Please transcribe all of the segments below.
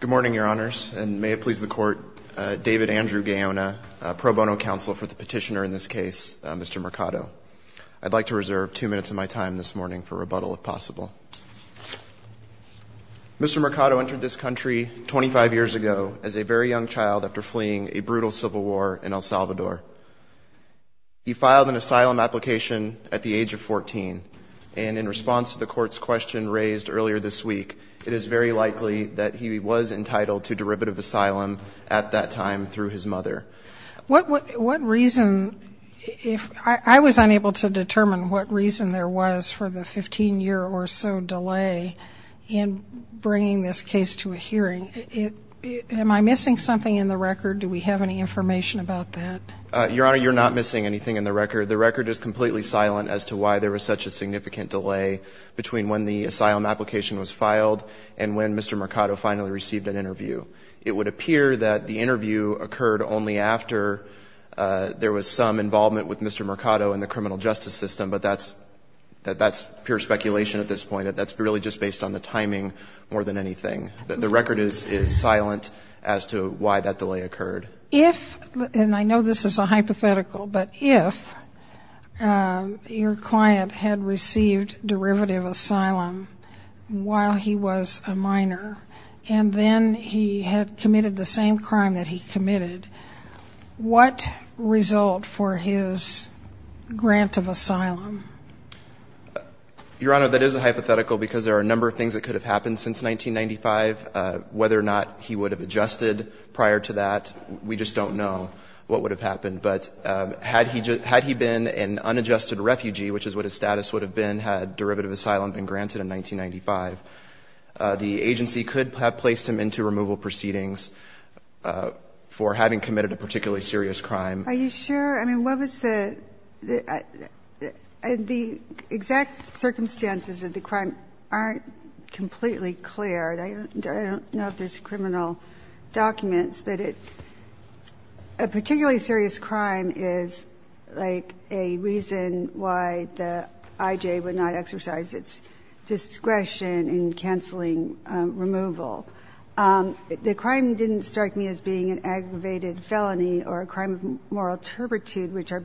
Good morning, Your Honors, and may it please the Court, David Andrew Gaona, pro bono counsel for the petitioner in this case, Mr. Mercado. I'd like to reserve two minutes of my time this morning for rebuttal, if possible. Mr. Mercado entered this country 25 years ago as a very young child after fleeing a brutal civil war in El Salvador. He filed an asylum application at the age of 14, and in response to the Court's question raised earlier this week, it is very likely that he was entitled to derivative asylum at that time through his mother. What reason, if I was unable to determine what reason there was for the 15-year or so delay in bringing this case to a hearing, am I missing something in the record? Do we have any information about that? Your Honor, you're not missing anything in the record. The record is completely silent as to why there was such a significant delay between when the asylum application was filed and when Mr. Mercado finally received an interview. It would appear that the interview occurred only after there was some involvement with Mr. Mercado in the criminal justice system, but that's pure speculation at this point. That's really just based on the timing more than anything. The record is silent as to why that delay occurred. If, and I know this is a hypothetical, but if your client had received derivative asylum while he was a minor, and then he had committed the same crime that he committed, what result for his grant of asylum? Your Honor, that is a hypothetical because there are a number of things that could have happened since 1995. Whether or not he would have adjusted prior to that, we just don't know what would have happened. But had he been an unadjusted refugee, which is what his status would have been had derivative asylum been granted in 1995, the agency could have placed him into removal proceedings for having committed a particularly serious crime. Are you sure? I mean, what was the – the exact circumstances of the crime aren't completely clear. I don't know if there's criminal documents, but it – a particularly serious crime is like a reason why the IJ would not exercise its discretion in canceling removal. The crime didn't strike me as being an aggravated felony or a crime of moral It's sort of a different –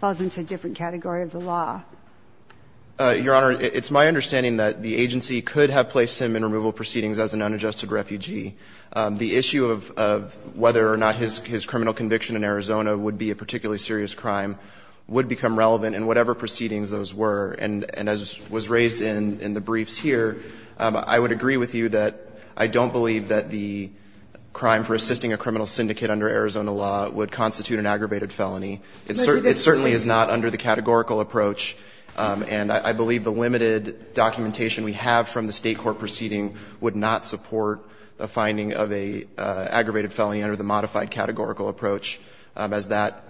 falls into a different category of the law. Your Honor, it's my understanding that the agency could have placed him in removal proceedings as an unadjusted refugee. The issue of whether or not his criminal conviction in Arizona would be a particularly serious crime would become relevant in whatever proceedings those were. And as was raised in the briefs here, I would agree with you that I don't believe that the crime for assisting a criminal syndicate under Arizona law would constitute an aggravated felony. It certainly is not under the categorical approach. And I believe the limited documentation we have from the State court proceeding would not support a finding of an aggravated felony under the modified categorical approach, as that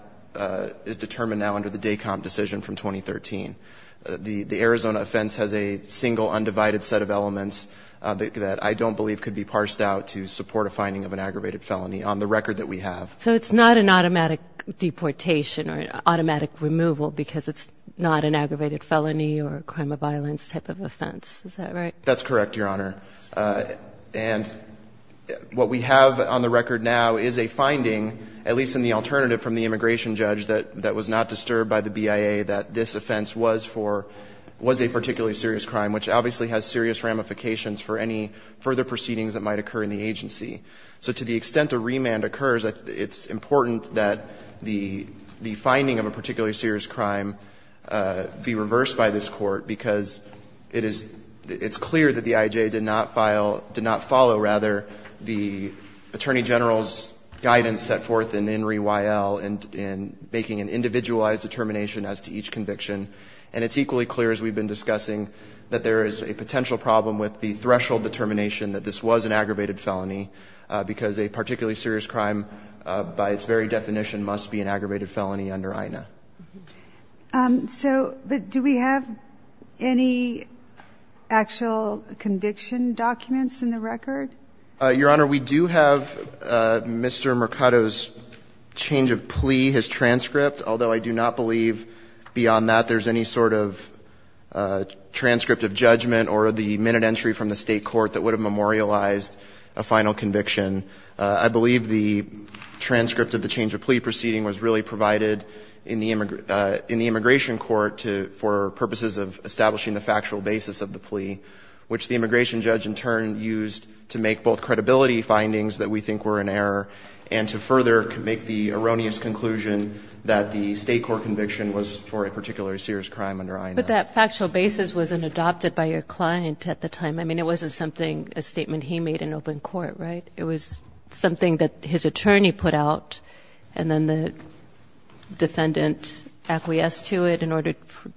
is determined now under the DACOM decision from 2013. The Arizona offense has a single undivided set of elements that I don't believe could be parsed out to support a finding of an aggravated felony on the record that we have. So it's not an automatic deportation or automatic removal because it's not an aggravated felony or a crime of violence type of offense. Is that right? That's correct, Your Honor. And what we have on the record now is a finding, at least in the alternative from the immigration judge, that was not disturbed by the BIA that this offense was for – was a particularly serious crime, which obviously has serious ramifications for any further proceedings that might occur in the agency. So to the extent a remand occurs, it's important that the finding of a particularly serious crime be reversed by this Court, because it is – it's clear that the I.J. did not file – did not follow, rather, the Attorney General's guidance set forth in INRI Y.L. in making an individualized determination as to each conviction. And it's equally clear, as we've been discussing, that there is a potential problem with the threshold determination that this was an aggravated felony, because a particularly serious crime, by its very definition, must be an aggravated felony under INA. So do we have any actual conviction documents in the record? Your Honor, we do have Mr. Mercado's change of plea, his transcript, although I do not believe beyond that there's any sort of transcript of judgment or the minute entry from the State court that would have memorialized a final conviction. I believe the transcript of the change of plea proceeding was really provided in the immigration court for purposes of establishing the factual basis of the plea, which the immigration judge in turn used to make both credibility findings that we state court conviction was for a particularly serious crime under INA. But that factual basis wasn't adopted by your client at the time. I mean, it wasn't something, a statement he made in open court, right? It was something that his attorney put out and then the defendant acquiesced to it in order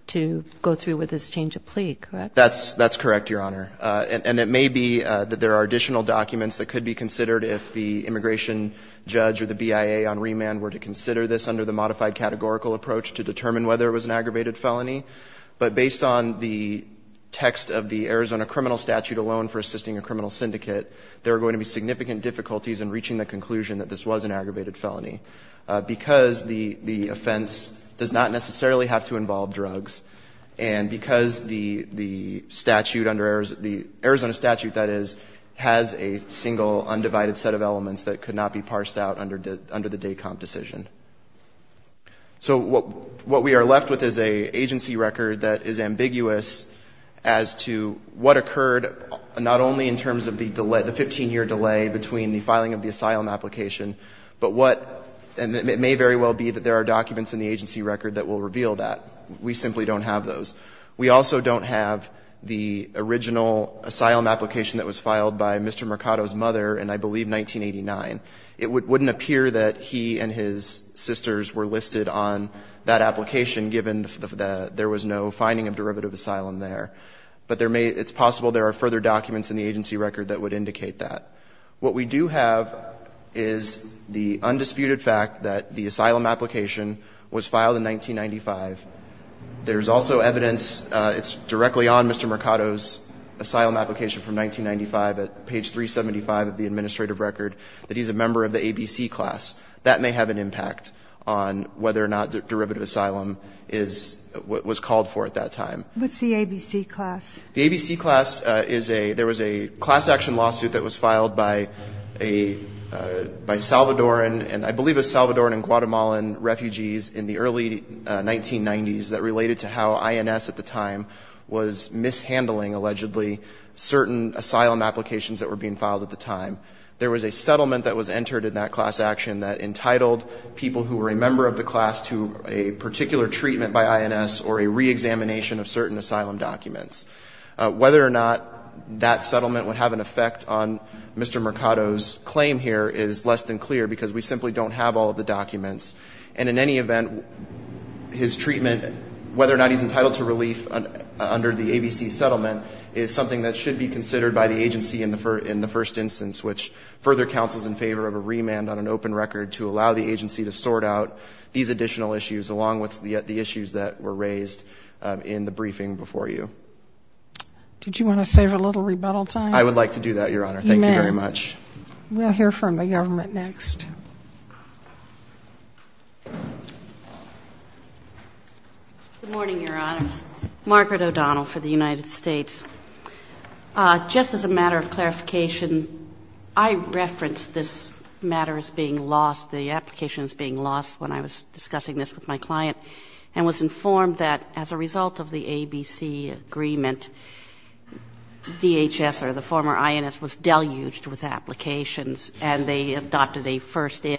to go through with his change of plea, correct? That's correct, Your Honor. And it may be that there are additional documents that could be considered if the immigration judge or the BIA on remand were to consider this under the modified categorical approach to determine whether it was an aggravated felony, but based on the text of the Arizona criminal statute alone for assisting a criminal syndicate, there are going to be significant difficulties in reaching the conclusion that this was an aggravated felony, because the offense does not necessarily have to involve drugs, and because the statute under Arizona, the Arizona statute, that is, has a single undivided set of elements that could not be parsed out under the DACOMP decision. So what we are left with is an agency record that is ambiguous as to what occurred not only in terms of the delay, the 15-year delay between the filing of the asylum application, but what, and it may very well be that there are documents in the agency record that will reveal that. We simply don't have those. We also don't have the original asylum application that was filed by Mr. Mercado's father in, I believe, 1989. It wouldn't appear that he and his sisters were listed on that application, given that there was no finding of derivative asylum there. But there may be, it's possible there are further documents in the agency record that would indicate that. What we do have is the undisputed fact that the asylum application was filed in 1995. There is also evidence, it's directly on Mr. Mercado's own application from 1995 at page 375 of the administrative record, that he's a member of the ABC class. That may have an impact on whether or not derivative asylum is, was called for at that time. What's the ABC class? The ABC class is a, there was a class action lawsuit that was filed by a, by Salvadoran and I believe it was Salvadoran and Guatemalan refugees in the early 1990s that related to how INS at the time was mishandling, allegedly, certain asylum applications that were being filed at the time. There was a settlement that was entered in that class action that entitled people who were a member of the class to a particular treatment by INS or a reexamination of certain asylum documents. Whether or not that settlement would have an effect on Mr. Mercado's claim here is less than clear, because we simply don't have all of the documents. And in any event, his treatment, whether or not he's entitled to relief under the ABC settlement is something that should be considered by the agency in the first instance, which further counsels in favor of a remand on an open record to allow the agency to sort out these additional issues along with the issues that were raised in the briefing before you. Did you want to save a little rebuttal time? I would like to do that, Your Honor. Thank you very much. We'll hear from the government next. Good morning, Your Honors. Margaret O'Donnell for the United States. Just as a matter of clarification, I referenced this matter as being lost, the application as being lost when I was discussing this with my client, and was informed that as a result of the ABC agreement, DHS or the former INS was deluged with applications and they adopted a first in.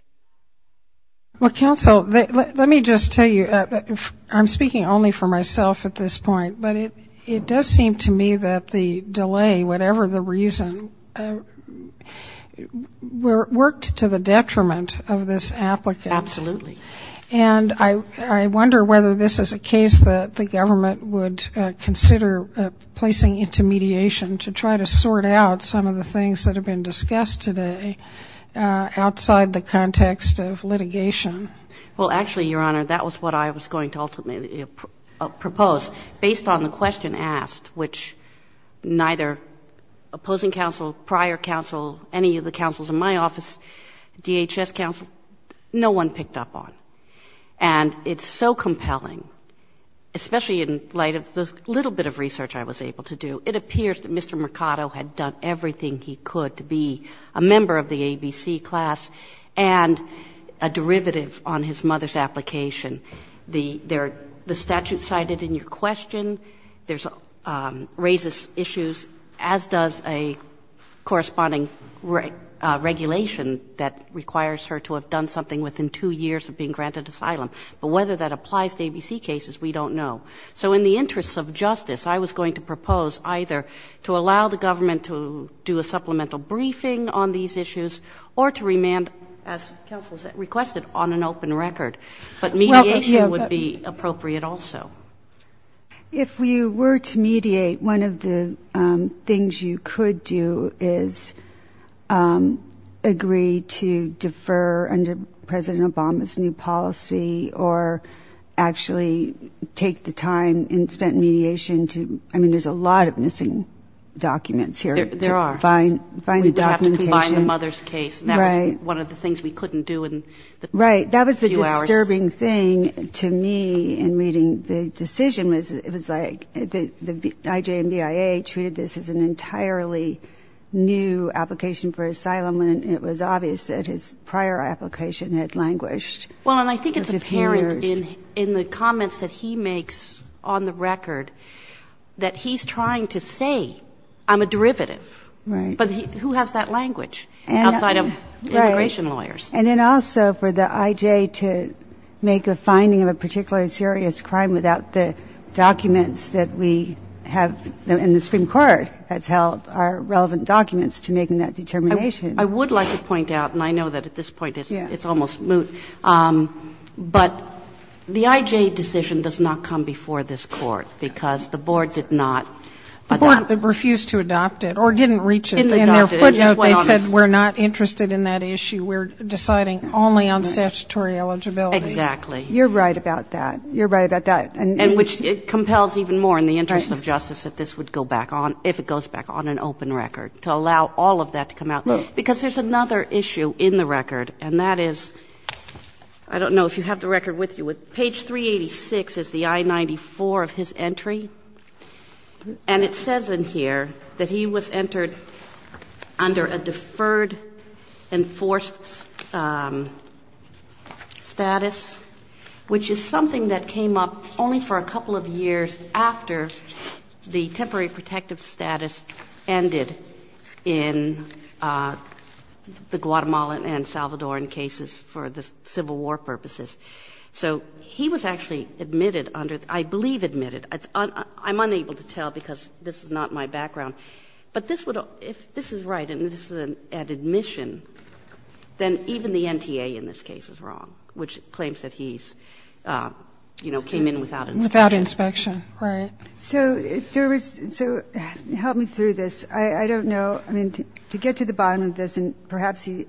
Well, counsel, let me just tell you, I'm speaking only for myself at this point, but it does seem to me that the delay, whatever the reason, worked to the detriment of this applicant. Absolutely. And I wonder whether this is a case that the government would consider placing into mediation to try to sort out some of the things that have been discussed today outside the context of litigation. Well, actually, Your Honor, that was what I was going to ultimately propose. Based on the question asked, which neither opposing counsel, prior counsel, any of the I was able to do, it appears that Mr. Mercado had done everything he could to be a member of the ABC class and a derivative on his mother's application. The statute cited in your question raises issues, as does a corresponding regulation that requires her to have done something within two years of being granted asylum. But whether that applies to ABC cases, we don't know. So in the interests of justice, I was going to propose either to allow the government to do a supplemental briefing on these issues or to remand, as counsel requested, on an open record. But mediation would be appropriate also. If you were to mediate, one of the things you could do is agree to defer under President Obama's new policy or actually take the time and spend mediation to, I mean, there's a lot of missing documents here. There are. We would have to combine the mother's case. That was one of the things we couldn't do in the few hours. Right. That was the disturbing thing to me in reading the decision. It was like the IJMDIA treated this as an entirely new application for asylum, and it was obvious that his prior application had languished. Well, and I think it's apparent in the comments that he makes on the record that he's trying to say, I'm a derivative. But who has that language outside of immigration lawyers? And then also for the IJ to make a finding of a particular serious crime without the documents that we have, and the Supreme Court has held are relevant documents to making that determination. I would like to point out, and I know that at this point it's almost moot, but the IJ decision does not come before this Court, because the board did not adopt it. The board refused to adopt it or didn't reach it. In their footnote, they said we're not interested in that issue. We're deciding only on statutory eligibility. Exactly. You're right about that. You're right about that. And which it compels even more in the interest of justice that this would go back on, if it goes back on, an open record, to allow all of that to come out. Because there's another issue in the record, and that is, I don't know if you have the record with you, but page 386 is the I-94 of his entry, and it says in here that he was entered under a deferred enforced status, which is something that came up only for a couple of years after the temporary protective status ended in the So he was actually admitted under, I believe admitted. I'm unable to tell because this is not my background. But this would, if this is right and this is at admission, then even the NTA in this case is wrong, which claims that he's, you know, came in without inspection. Without inspection, right. So there was, so help me through this. I don't know. I mean, to get to the bottom of this, and perhaps he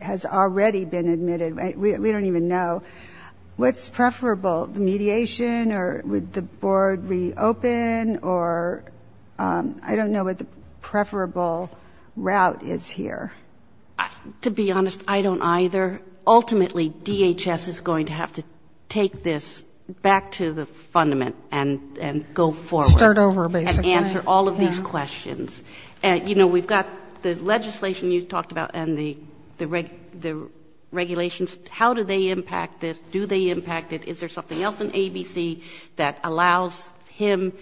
has already been admitted, we don't even know, what's preferable, the mediation, or would the board reopen, or I don't know what the preferable route is here. To be honest, I don't either. Ultimately, DHS is going to have to take this back to the fundament and go forward. Start over, basically. And answer all of these questions. You know, we've got the legislation you talked about and the regulations. How do they impact this? Do they impact it? Is there something else in ABC that allows him,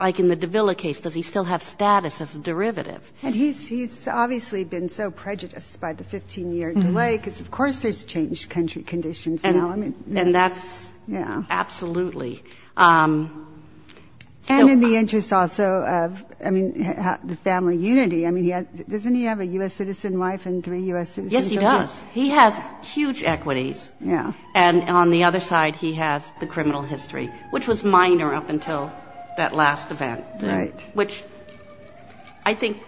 like in the Davila case, does he still have status as a derivative? And he's obviously been so prejudiced by the 15-year delay, because of course there's changed country conditions now. And that's absolutely. And in the interest also of, I mean, the family unity. I mean, doesn't he have a U.S. citizen wife and three U.S. citizen children? Yes, he does. He has huge equities. Yeah. And on the other side, he has the criminal history, which was minor up until that last event. Right. Which I think,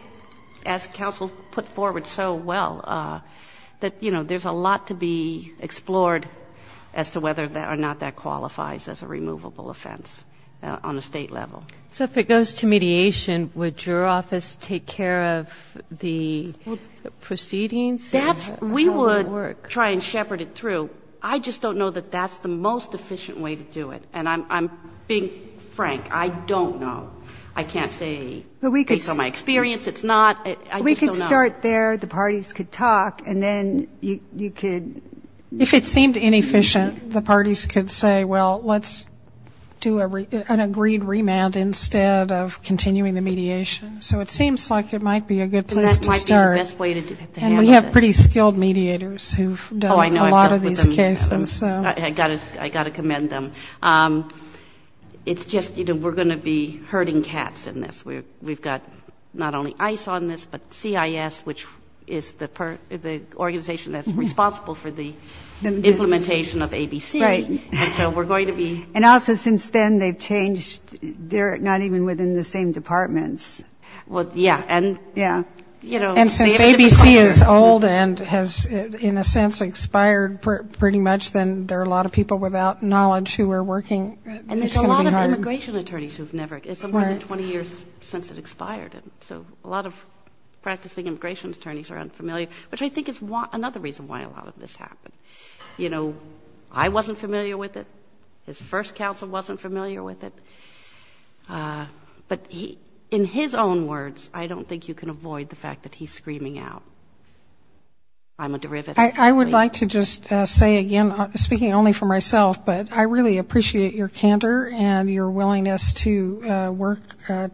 as counsel put forward so well, that, you know, there's a lot to be explored as to whether or not that qualifies as a removal. I mean, that's a reasonable offense on a state level. So if it goes to mediation, would your office take care of the proceedings? That's how we work. We would try and shepherd it through. I just don't know that that's the most efficient way to do it. And I'm being frank. I don't know. I can't say based on my experience. It's not. I just don't know. If you start there, the parties could talk, and then you could... If it seemed inefficient, the parties could say, well, let's do an agreed remand instead of continuing the mediation. So it seems like it might be a good place to start. And that might be the best way to handle this. And we have pretty skilled mediators who've done a lot of these cases. Oh, I know. I've dealt with them. I got to commend them. It's just, you know, we're going to be herding cats in this. We've got not only ICE on this, but CIS, which is the organization that's responsible for the implementation of ABC. Right. And so we're going to be... And also, since then, they've changed. They're not even within the same departments. Well, yeah. Yeah. And since ABC is old and has, in a sense, expired pretty much, then there are a lot of people without knowledge who are working. And there's a lot of immigration attorneys who've never... It's been more than 20 years since it expired. So a lot of practicing immigration attorneys are unfamiliar, which I think is another reason why a lot of this happened. You know, I wasn't familiar with it. His first counsel wasn't familiar with it. But in his own words, I don't think you can avoid the fact that he's screaming out, I'm a derivative. I would like to just say again, speaking only for myself, but I really appreciate your candor and your willingness to work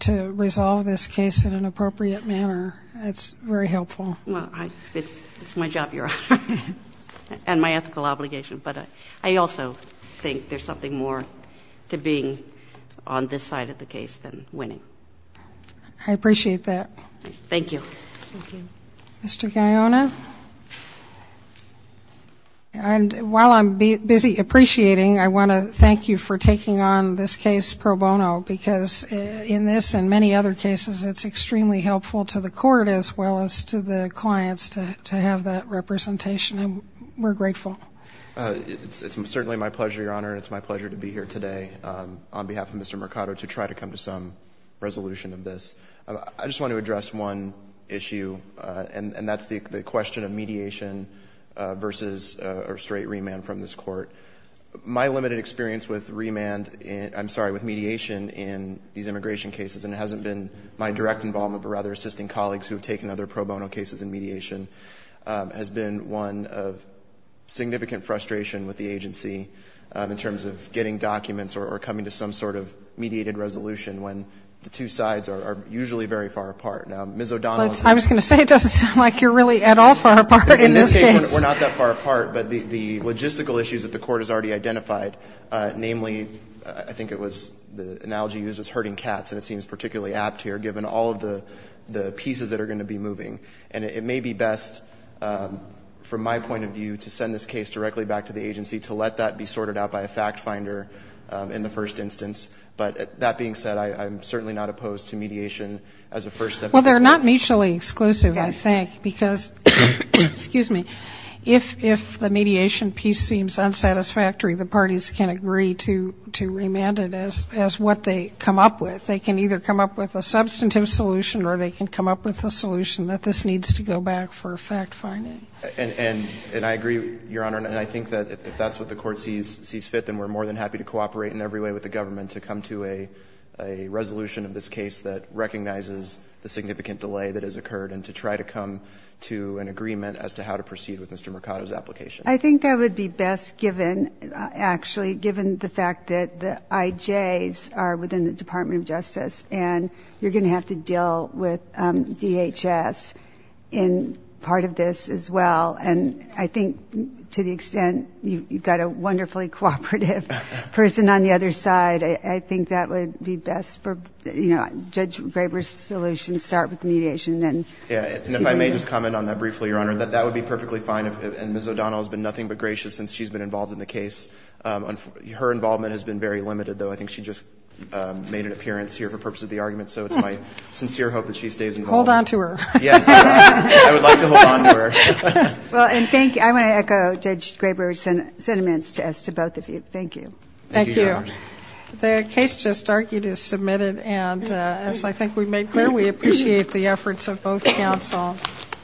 to resolve this case in an appropriate manner. It's very helpful. Well, it's my job, Your Honor, and my ethical obligation. But I also think there's something more to being on this side of the case than winning. I appreciate that. Thank you. Thank you. Mr. Guyona? And while I'm busy appreciating, I want to thank you for taking on this case pro bono, because in this and many other cases, it's extremely helpful to the court as well as to the clients to have that representation. And we're grateful. It's certainly my pleasure, Your Honor. It's my pleasure to be here today on behalf of Mr. Mercado to try to come to some resolution of this. I just want to address one issue, and that's the question of mediation versus a straight remand from this court. My limited experience with remand, I'm sorry, with mediation in these immigration cases, and it hasn't been my direct involvement, but rather assisting colleagues who have taken other pro bono cases in mediation, has been one of significant frustration with the agency in terms of getting documents or coming to some sort of mediated resolution when the two sides are usually very far apart. Now, Ms. O'Donnell. I was going to say it doesn't sound like you're really at all far apart in this case. We're not that far apart, but the logistical issues that the court has already identified, namely, I think it was the analogy used was herding cats, and it seems particularly apt here given all of the pieces that are going to be moving. And it may be best from my point of view to send this case directly back to the agency to let that be sorted out by a fact finder in the first instance. But that being said, I'm certainly not opposed to mediation as a first step. Well, they're not mutually exclusive, I think, because, excuse me, if the mediation piece seems unsatisfactory, the parties can agree to remand it as what they come up with. They can either come up with a substantive solution or they can come up with a solution that this needs to go back for fact finding. And I agree, Your Honor, and I think that if that's what the court sees fit, then we're more than happy to cooperate in every way with the government to come to a resolution of this case that recognizes the significant delay that has occurred and to try to come to an agreement as to how to proceed with Mr. Mercado's application. I think that would be best given, actually, given the fact that the IJs are within the Department of Justice and you're going to have to deal with DHS in part of this as well. And I think to the extent you've got a wonderfully cooperative person on the other side, I think that would be best for, you know, Judge Graber's solution, start with mediation and then see what happens. And if I may just comment on that briefly, Your Honor, that that would be perfectly fine and Ms. O'Donnell has been nothing but gracious since she's been involved in the case. Her involvement has been very limited, though. I think she just made an appearance here for the purpose of the argument, so it's my sincere hope that she stays involved. Hold on to her. Yes. I would like to hold on to her. Well, and thank you. I want to echo Judge Graber's sentiments to us, to both of you. Thank you. Thank you, Your Honor. The case just argued is submitted, and as I think we've made clear, we appreciate the efforts of both counsel.